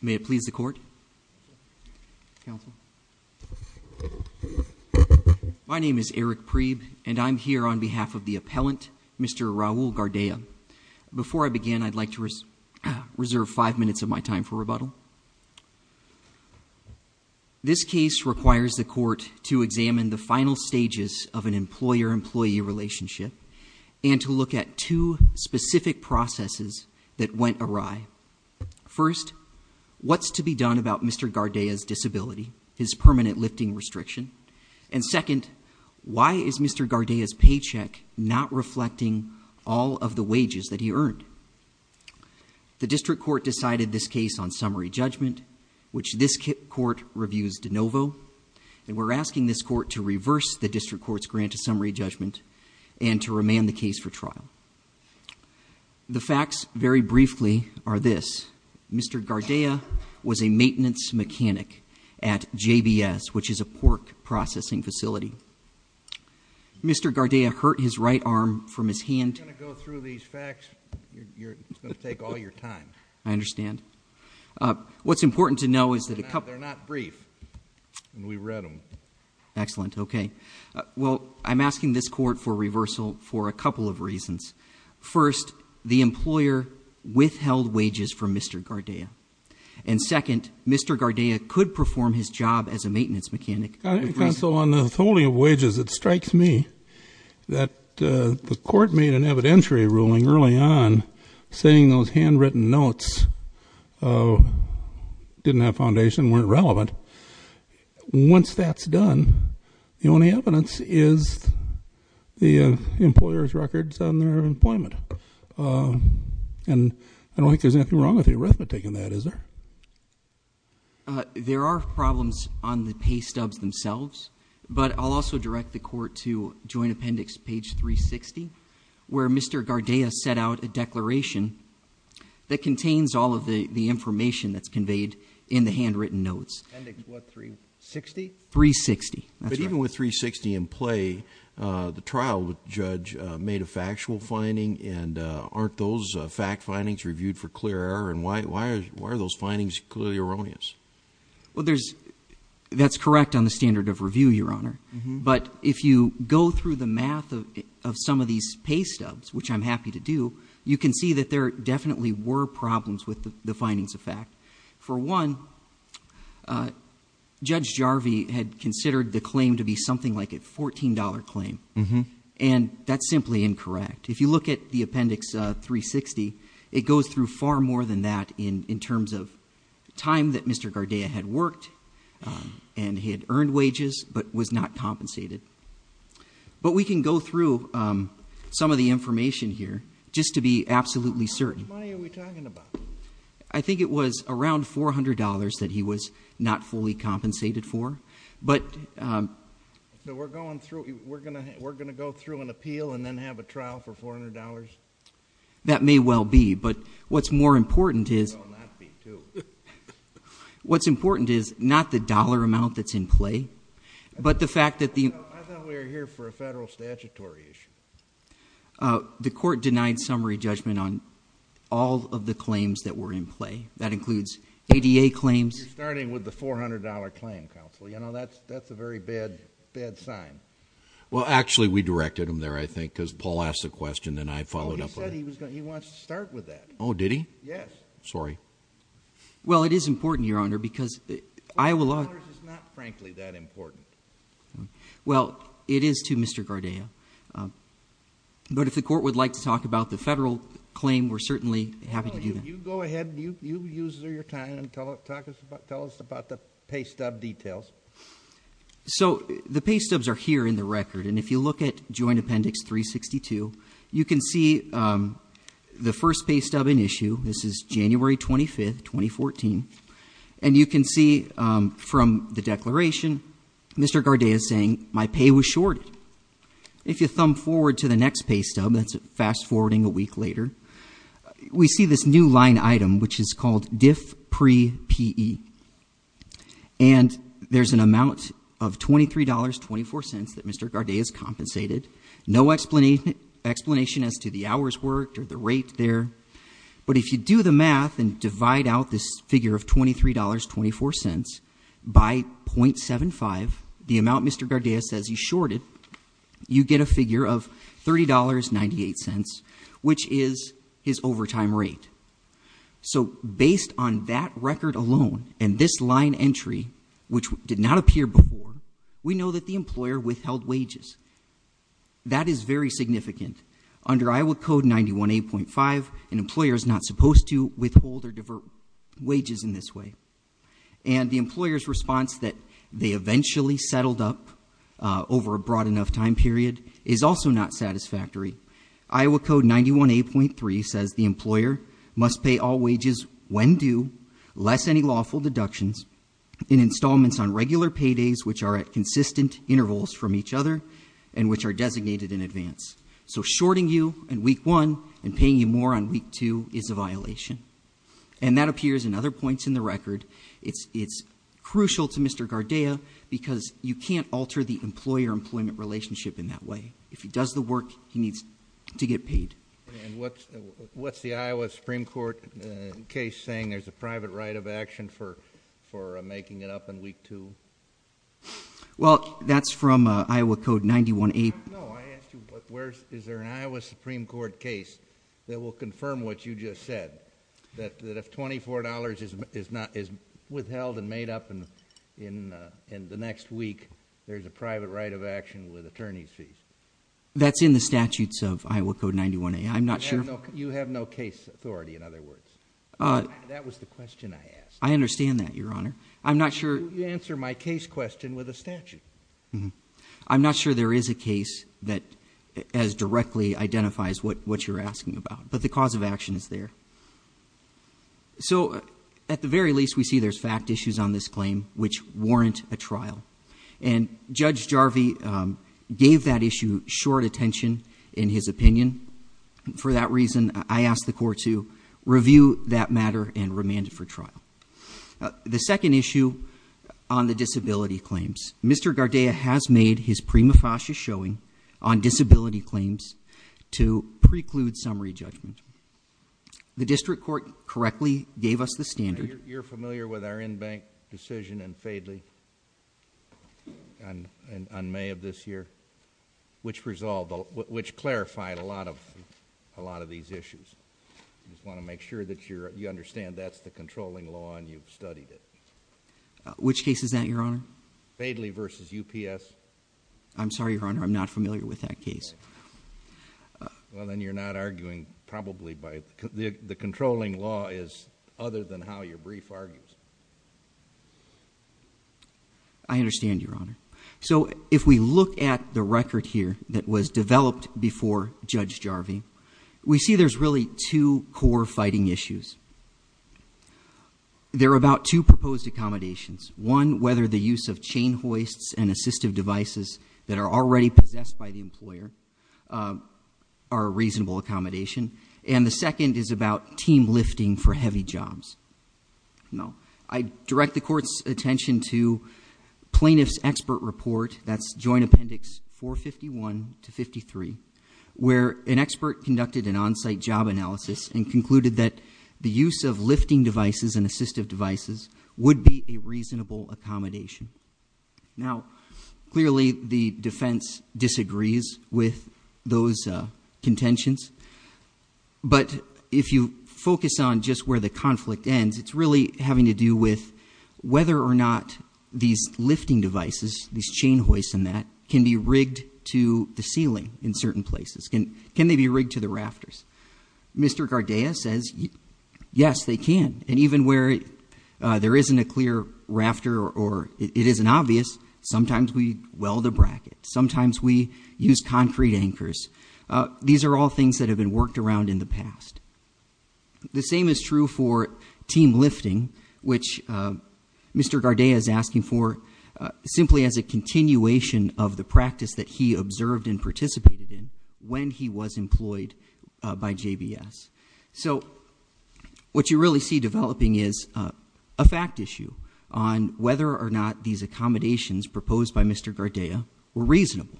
May it please the court. My name is Eric Preeb and I'm here on behalf of the appellant Mr. Raul Gardea. Before I begin I'd like to reserve five minutes of my time for rebuttal. This case requires the court to examine the final stages of an appeal. There were two specific processes that went awry. First, what's to be done about Mr. Gardea's disability, his permanent lifting restriction? And second, why is Mr. Gardea's paycheck not reflecting all of the wages that he earned? The district court decided this case on summary judgment, which this court reviews de novo, and we're asking this court to reverse the district court's grant to summary judgment and to remand the case for trial. The facts, very briefly, are this. Mr. Gardea was a maintenance mechanic at JBS, which is a pork processing facility. Mr. Gardea hurt his right arm from his hand. If you're going to go through these facts, it's going to take all your time. I understand. What's important to know is that a couple They're not brief. We read them. Excellent. Okay. Well, I'm asking this court for reversal for a couple of reasons. First, the employer withheld wages from Mr. Gardea. And second, Mr. Gardea could perform his job as a maintenance mechanic. Counsel, on the withholding of wages, it strikes me that the court made an evidentiary ruling early on saying those handwritten notes didn't have foundation, weren't relevant. Once that's done, the only evidence is the employer's records on their employment. And I don't think there's anything wrong with the arithmetic in that, is there? There are problems on the pay stubs themselves, but I'll also direct the court to joint appendix page 360, where Mr. Gardea set out a declaration that contains all of the information that's conveyed in the handwritten notes. Appendix what, 360? 360, that's right. But even with 360 in play, the trial judge made a factual finding, and aren't those fact findings reviewed for clear error? And why are those findings clearly erroneous? That's correct on the standard of review, Your Honor. But if you go through the math of some of these pay stubs, which I'm happy to do, you can see that there definitely were problems with the findings of fact. For one, Judge Jarvie had considered the claim to be something like a $14 claim, and that's simply incorrect. If you look at the appendix 360, it goes through far more than that in terms of time that Mr. Gardea had worked and he had earned wages but was not compensated. But we can go through some of the information here just to be absolutely certain. How much money are we talking about? I think it was around $400 that he was not fully compensated for. But we're going to go through an appeal and then have a trial for $400? That may well be, but what's more important is not the dollar amount that's in play, but the fact that the- I thought we were here for a federal statutory issue. The court denied summary judgment on all of the claims that were in play. That includes ADA claims- You're starting with the $400 claim, counsel. You know, that's a very bad, bad sign. Well, actually, we directed him there, I think, because Paul asked the question and I followed up on it. No, he said he wants to start with that. Oh, did he? Yes. Sorry. Well, it is important, Your Honor, because I will- $400 is not, frankly, that important. Well, it is to Mr. Gardea. But if the court would like to talk about the federal claim, we're certainly happy to do that. Well, you go ahead and you use your time and tell us about the pay stub details. So the pay stubs are here in the record, and if you look at Joint Appendix 362, you can see the first pay stub in issue. This is January 25th, 2014. And you can see from the declaration Mr. Gardea is saying, my pay was shorted. If you thumb forward to the next pay stub, that's fast-forwarding a week later, we see this new line item, which is called Diff Pre-PE. And there's an amount of $23.24 that Mr. Gardea has compensated. No explanation as to the hours worked or the rate there. But if you do the math and divide out this figure of $23.24 by .75, the amount Mr. Gardea says he shorted, you get a figure of $30.98, which is his overtime rate. So based on that record alone and this line entry, which did not appear before, we know that the employer withheld wages. That is very significant. Under Iowa Code 91A.5, an employer is not supposed to withhold or divert wages in this way. And the employer's response that they eventually settled up over a broad enough time period is also not satisfactory. Iowa Code 91A.3 says the employer must pay all wages when due, less any lawful deductions, in installments on regular paydays, which are at consistent intervals from each other, and which are a violation. And that appears in other points in the record. It's crucial to Mr. Gardea because you can't alter the employer-employment relationship in that way. If he does the work, he needs to get paid. And what's the Iowa Supreme Court case saying there's a private right of action for making it up in Week 2? Well, that's from Iowa Code 91A. No, I asked you, is there an Iowa Supreme Court case that will confirm what you just said? That if $24 is withheld and made up in the next week, there's a private right of action with attorney's fees? That's in the statutes of Iowa Code 91A. I'm not sure... You have no case authority, in other words. That was the question I asked. I understand that, Your Honor. I'm not sure... You answer my case question with a statute. Mm-hmm. I'm not sure there is a case that as directly identifies what you're asking about, but the cause of action is there. So at the very least, we see there's fact issues on this claim which warrant a trial. And Judge Jarvie gave that issue short attention in his opinion. For that reason, I asked the court to review that matter and remand it for trial. The second issue on the disability claims. Mr. Gardea has made his prima facie showing on disability claims to preclude summary judgment. The district court correctly gave us the standard... You're familiar with our in-bank decision in Fadley on May of this year, which clarified a lot of these issues. I just want to make sure that you understand that's controlling law and you've studied it. Which case is that, Your Honor? Fadley v. UPS. I'm sorry, Your Honor. I'm not familiar with that case. Well, then you're not arguing probably by... The controlling law is other than how your brief argues. I understand, Your Honor. So if we look at the record here that was developed before Judge Jarvie, we see there's really two core fighting issues. There are about two proposed accommodations. One, whether the use of chain hoists and assistive devices that are already possessed by the employer are a reasonable accommodation. And the second is about team lifting for heavy jobs. I direct the court's attention to plaintiff's expert report, that's Joint Appendix 451 to 53, where an expert conducted an on-site job analysis and concluded that the use of lifting devices and assistive devices would be a reasonable accommodation. Now, clearly the defense disagrees with those contentions, but if you focus on just where the conflict ends, it's really having to do with whether or not these lifting devices, these can they be rigged to the rafters? Mr. Gardea says, yes, they can. And even where there isn't a clear rafter or it isn't obvious, sometimes we weld a bracket. Sometimes we use concrete anchors. These are all things that have been worked around in the past. The same is true for team lifting, which Mr. Gardea is asking for simply as a continuation of the practice that he observed and participated in when he was employed by JVS. So what you really see developing is a fact issue on whether or not these accommodations proposed by Mr. Gardea were reasonable.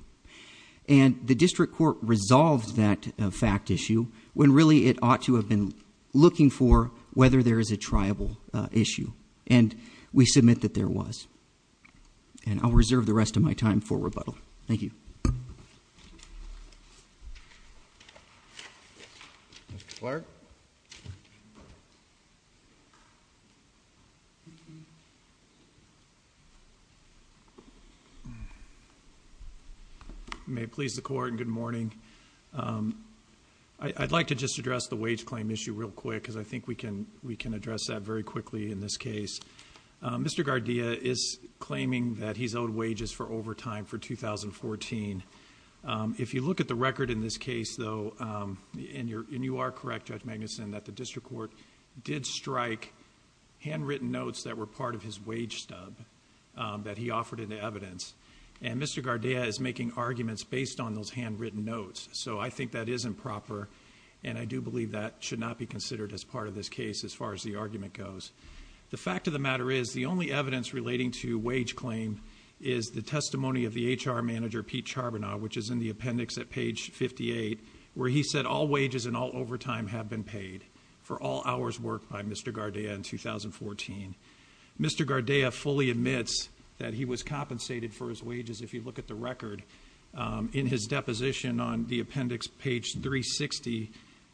And the district court resolved that fact issue when really it ought to have been looking for whether there is a triable issue. And we submit that there was. And I'll reserve the rest of my time for rebuttal. Thank you. Mr. Clark. May it please the court and good morning. I'd like to just address the wage claim issue real quickly. Mr. Gardea is claiming that he's owed wages for overtime for 2014. If you look at the record in this case, though, and you are correct, Judge Magnuson, that the district court did strike handwritten notes that were part of his wage stub that he offered in the evidence. And Mr. Gardea is making arguments based on those handwritten notes. So I think that is improper. And I do believe that should not be considered as part of this case as far as the argument goes. The fact of the matter is the only evidence relating to wage claim is the testimony of the HR manager, Pete Charbonneau, which is in the appendix at page 58, where he said all wages and all overtime have been paid for all hours worked by Mr. Gardea in 2014. Mr. Gardea fully admits that he was compensated for his wages. If you look at the record in his deposition on the appendix, page 360,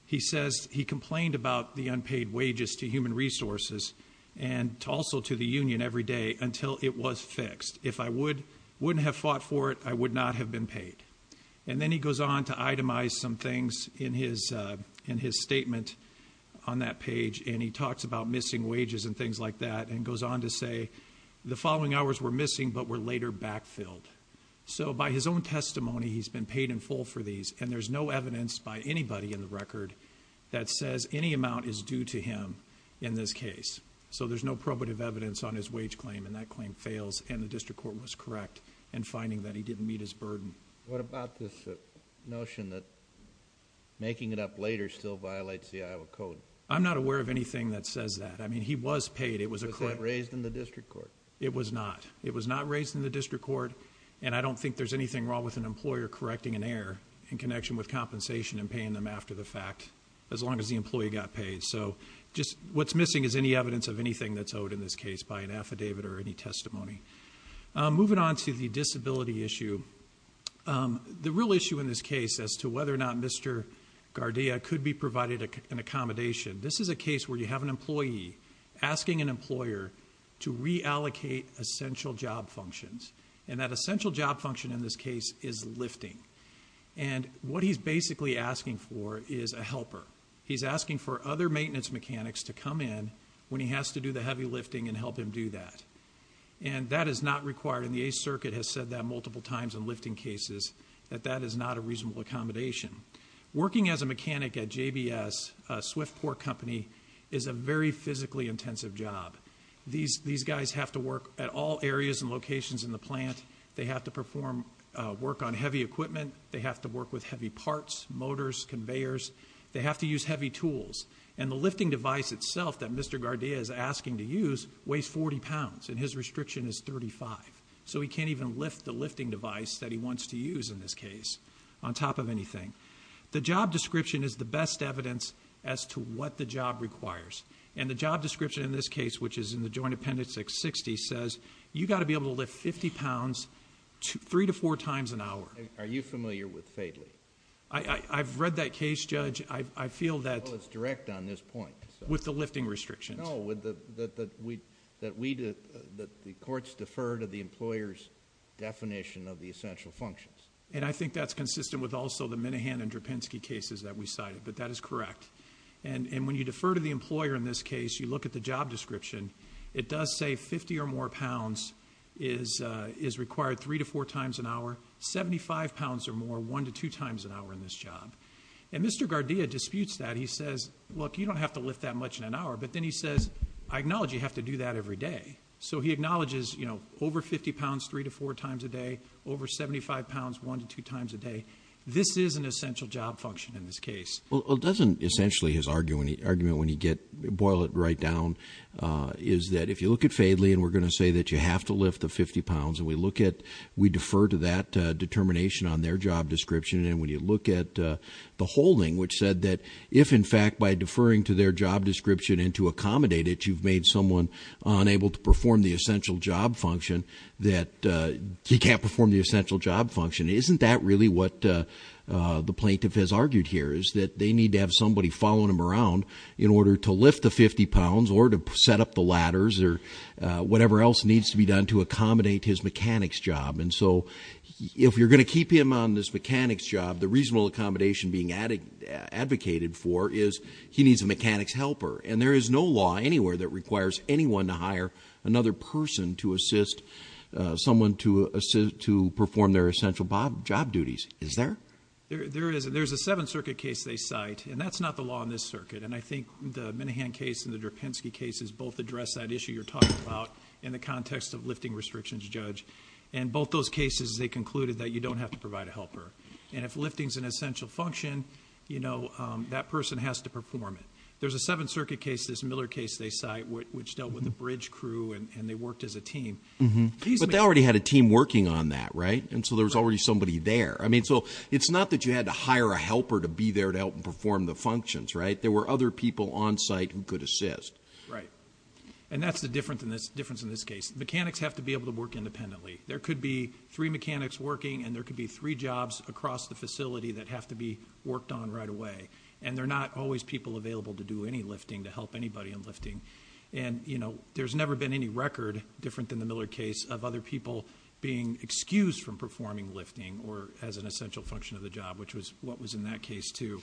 he says he complained about the unpaid wages to human resources and also to the union every day until it was fixed. If I wouldn't have fought for it, I would not have been paid. And then he goes on to itemize some things in his statement on that page. And he talks about missing wages and things like that and goes on to say the following hours were missing but were later backfilled. So by his own testimony, he's been paid in full for these. And there's no evidence by anybody in the record that says any amount is due to him in this case. So there's no probative evidence on his wage claim. And that claim fails. And the district court was correct in finding that he didn't meet his burden. What about this notion that making it up later still violates the Iowa code? I'm not aware of anything that says that. I mean, he was paid. Was that raised in the district court? It was not. It was not raised in the district court. And I don't think there's anything wrong with an employer correcting an error in connection with compensation and paying them after the fact, as long as the employee got paid. So just what's missing is any evidence of anything that's owed in this case by an affidavit or any testimony. Moving on to the disability issue. The real issue in this case as to whether or not Mr. Gardia could be provided an accommodation. This is a case where you have an employee asking an employer to reallocate essential job functions. And that essential job function in this case is lifting. And what he's basically asking for is a helper. He's asking for other maintenance mechanics to come in when he has to do the heavy lifting and help him do that. And that is not required. And the 8th Circuit has said that multiple times in lifting cases, that that is not a reasonable accommodation. Working as a mechanic at JBS, a swift port company, is a very physically intensive job. These guys have to work at all areas and locations in the plant. They have to perform work on heavy equipment. They have to work with heavy parts, motors, conveyors. They have to use heavy tools. And the lifting device itself that Mr. Gardia is asking to use weighs 40 pounds, and his restriction is 35. So he can't even lift the lifting device that he wants to use in this case, on top of anything. The job description is the best evidence as to what the job requires. And the job description in this case, which is in the Joint Appendix 660, says, you've got to be able to lift 50 pounds three to four times an hour. JUSTICE KENNEDY Are you familiar with FATELY? MR. GARDIA I've read that case, Judge. I feel that... JUSTICE KENNEDY Well, it's direct on this point. MR. GARDIA With the lifting restrictions. JUSTICE KENNEDY No, that the courts defer to the employer's definition of the essential functions. And I think that's consistent with also the Minahan and Drapinski cases that we cited, but that is correct. And when you defer to the employer in this case, you look at the job description. It does say 50 or more pounds is required three to four times an hour, 75 pounds or more, one to two times an hour in this job. And Mr. Gardia disputes that. He says, look, you don't have to lift that much in an hour. But then he says, I acknowledge you have to do that every day. So he acknowledges, you know, over 50 pounds three to four times a day, over 75 pounds one to two times a day. This is an essential job function in this case. MR. GARDIA Well, it doesn't essentially, his argument, when you get... boil it right down, is that if you look at FADELY, and we're going to say that you have to lift the 50 pounds, and we look at... we defer to that determination on their job description. And when you look at the holding, which said that if, in fact, by deferring to their job description and to accommodate it, you've made someone unable to perform the essential job function. Isn't that really what the plaintiff has argued here, is that they need to have somebody following them around in order to lift the 50 pounds, or to set up the ladders, or whatever else needs to be done to accommodate his mechanics job. And so if you're going to keep him on this mechanics job, the reasonable accommodation being advocated for is he needs a mechanics helper. And there is no law anywhere that performs their essential job duties, is there? MR. GARDIA There is. There's a Seventh Circuit case they cite, and that's not the law in this circuit. And I think the Minahan case and the Drapinski cases both address that issue you're talking about in the context of lifting restrictions, Judge. In both those cases, they concluded that you don't have to provide a helper. And if lifting's an essential function, you know, that person has to perform it. There's a Seventh Circuit case, this Miller case they cite, which dealt with the bridge crew, and they worked as a team. MR. SORENSEN But they already had a team working on that, right? And so there was already somebody there. I mean, so it's not that you had to hire a helper to be there to help perform the functions, right? There were other people on site who could assist. MR. GARDIA Right. And that's the difference in this case. Mechanics have to be able to work independently. There could be three mechanics working, and there could be three jobs across the facility that have to be worked on right away. And there are not always people available to do any lifting, to help anybody in lifting. And, you know, there's never been any record, different than the Miller case, of other people being excused from performing lifting or as an essential function of the job, which was what was in that case, too.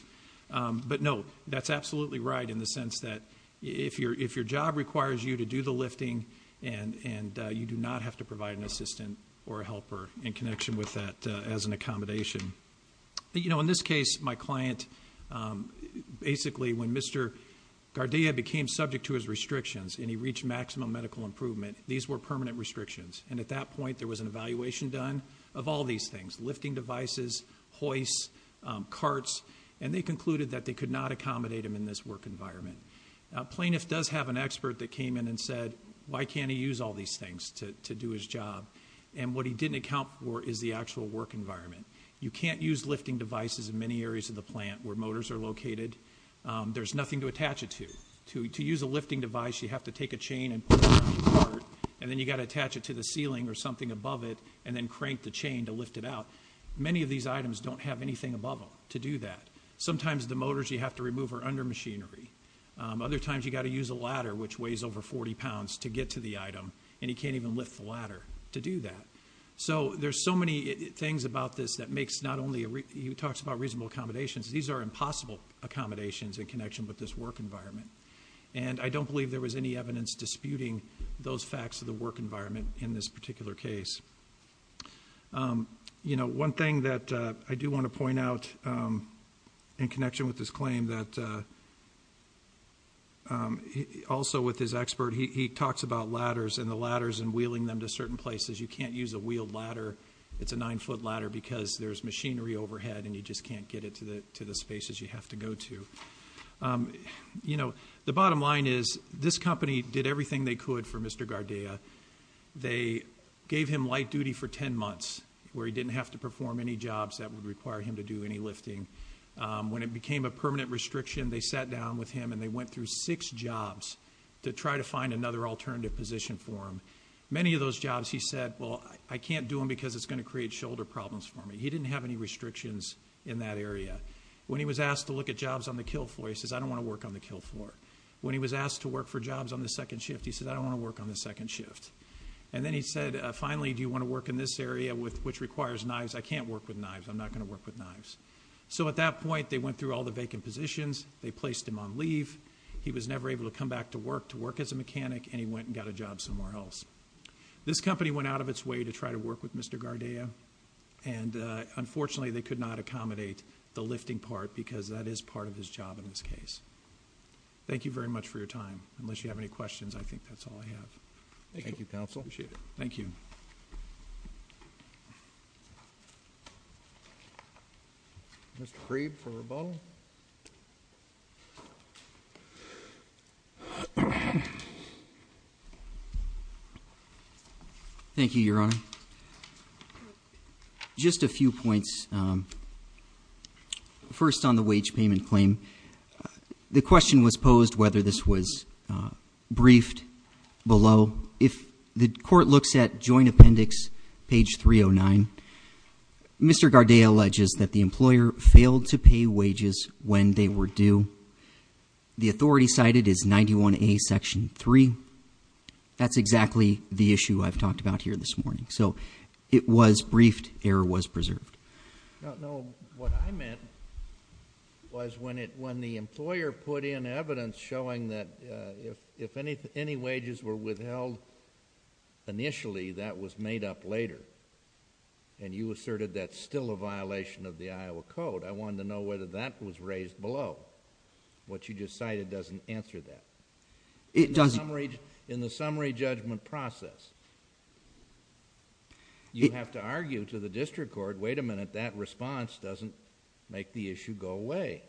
But no, that's absolutely right in the sense that if your job requires you to do the lifting, and you do not have to provide an assistant or a helper in connection with that as an accommodation. You know, in this case, my client, basically, when Mr. Gardia became subject to his restrictions, and he reached maximum medical improvement, these were permanent restrictions. And at that point, there was an evaluation done of all these things, lifting devices, hoists, carts, and they concluded that they could not accommodate him in this work environment. A plaintiff does have an expert that came in and said, why can't he use all these things to do his job? And what he didn't account for is the actual work environment. You can't use lifting devices in many areas of the plant where motors are located. There's nothing to attach it to. To use a lifting device, you have to take a chain and and then you got to attach it to the ceiling or something above it and then crank the chain to lift it out. Many of these items don't have anything above them to do that. Sometimes the motors you have to remove are under machinery. Other times you got to use a ladder, which weighs over 40 pounds to get to the item, and you can't even lift the ladder to do that. So there's so many things about this that makes not only, he talks about reasonable accommodations, these are impossible accommodations in connection with this work environment. And I don't believe there was any evidence disputing those facts of the work environment in this particular case. You know, one thing that I do want to point out in connection with this claim that also with his expert, he talks about ladders and the ladders and wheeling them to certain places. You can't use a wheeled ladder. It's a nine-foot ladder because there's machinery overhead and you just can't get it to the to the spaces you have to go to. You know, the bottom line is this company did everything they could for Mr. Gardea. They gave him light duty for 10 months where he didn't have to perform any jobs that would require him to do any lifting. When it became a permanent restriction, they sat down with him and they went through six jobs to try to find another alternative position for him. Many of those jobs he said, well, I can't do them because it's going to create shoulder problems for me. He didn't have any restrictions in that area. When he was asked to look at jobs on the kill floor, he says, I don't want to work on the kill floor. When he was asked to work for jobs on the second shift, he said, I don't want to work on the second shift. And then he said, finally, do you want to work in this area with which requires knives? I can't work with knives. I'm not going to work with knives. So at that point, they went through all the vacant positions. They placed him on leave. He was never able to come back to work to work as a mechanic and he went and got a job somewhere else. This company went out of its way to try to work with Mr. Gardea. And, uh, unfortunately they could not accommodate the lifting part because that is part of his job in this case. Thank you very much for your time. Unless you have any questions, I think that's all I have. Thank you, counsel. Appreciate it. Thank you. Mr. Creed for rebuttal. Thank you, Your Honor. Just a few points. Um, first on the wage payment claim, the question was posed whether this was, uh, briefed below. If the court looks at joint appendix page 309, Mr. Gardea alleges that the employer failed to pay wages when they were due. The authority cited is 91A section 3. That's exactly the issue I've talked about here this morning. So it was briefed. Error was preserved. No, no. What I meant was when it, when the employer put in evidence showing that, uh, if, if any, any wages were withheld initially, that was made up later. And you asserted that's still a violation of the Iowa code. I wanted to know whether that was raised below. What you just cited doesn't answer that. It doesn't. In the summary judgment process, you have to argue to the district court, wait a minute, that response doesn't make the issue go away.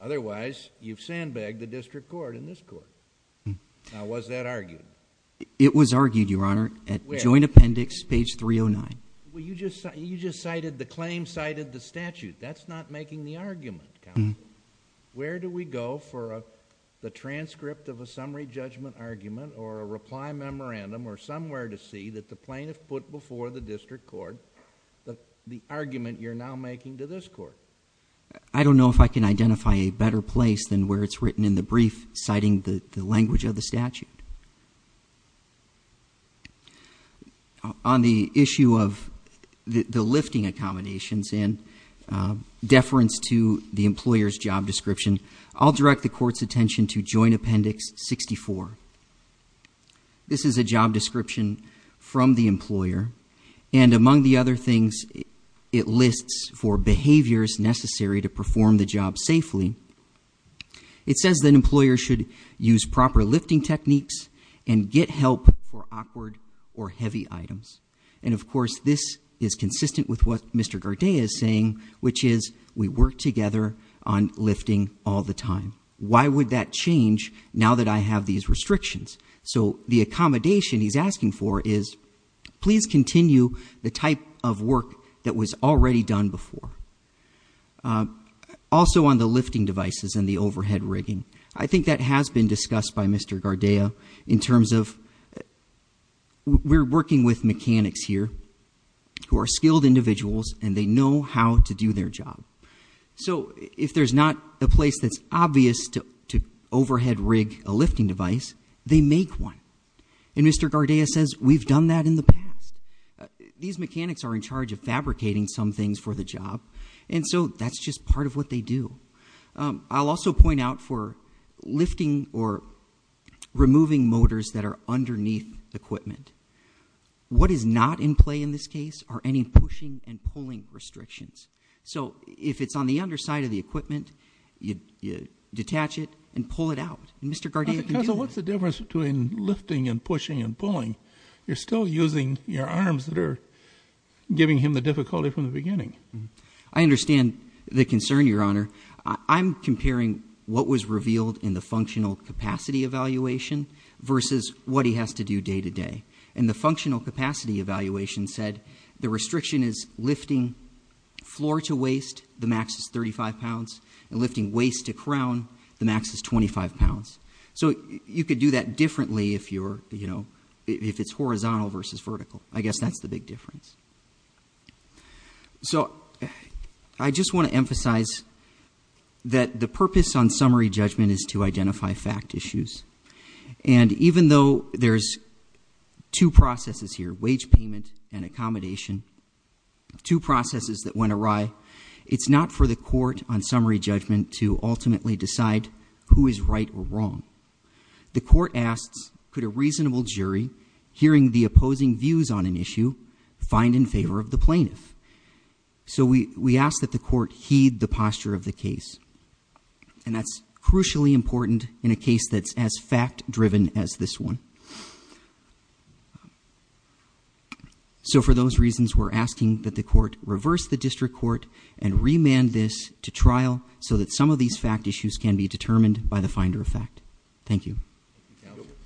Otherwise you've sandbagged the district court in this court. Now was that argued? It was argued, Your Honor, at joint appendix page 309. Well, you just, the claim cited the statute. That's not making the argument. Where do we go for the transcript of a summary judgment argument or a reply memorandum or somewhere to see that the plaintiff put before the district court the argument you're now making to this court? I don't know if I can identify a better place than where it's written in the brief citing the language of the statute. On the issue of the lifting accommodations and deference to the employer's job description, I'll direct the court's attention to joint appendix 64. This is a job description from the employer. And among the other things, it lists for behaviors necessary to perform the job safely. It says that employers should use proper lifting techniques and get help for awkward or heavy items. And of course, this is consistent with what Mr. Gardea is saying, which is we work together on lifting all the time. Why would that change now that I have these restrictions? So the accommodation he's asking for is please continue the type of work that was already done before. Also on the lifting devices and the overhead rigging, I think that has been discussed by Mr. Gardea in terms of we're working with mechanics here who are skilled individuals and they know how to do their job. So if there's not a place that's obvious to overhead rig a lifting device, they make one. And Mr. Gardea says we've done that in the past. These mechanics are in charge of fabricating some things for the job. And so that's just part of what they do. I'll also point out for lifting or removing motors that are underneath equipment, what is not in play in this case are any pushing and pulling restrictions. So if it's on the underside of the equipment, you detach it and pull it out. Mr. Gardea, what's the difference between lifting and pushing and the difficulty from the beginning? I understand the concern, Your Honor. I'm comparing what was revealed in the functional capacity evaluation versus what he has to do day-to-day. And the functional capacity evaluation said the restriction is lifting floor to waist, the max is 35 pounds, and lifting waist to crown, the max is 25 pounds. So you could do that differently if it's horizontal versus vertical. I guess that's the big difference. So I just want to emphasize that the purpose on summary judgment is to identify fact issues. And even though there's two processes here, wage payment and accommodation, two processes that went awry, it's not for the court on summary judgment to ultimately decide who is right or wrong. The court asks could a reasonable jury hearing the opposing views on an issue find in favor of the plaintiff. So we we ask that the court heed the posture of the case. And that's crucially important in a case that's as fact driven as this one. So for those reasons, we're asking that the court reverse the district court and remand this to trial so that some of these fact issues can be determined by the finder of fact. Thank you. Thank you counsel.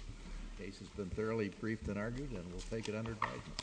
The case has been thoroughly briefed and argued and we'll take it under judgment.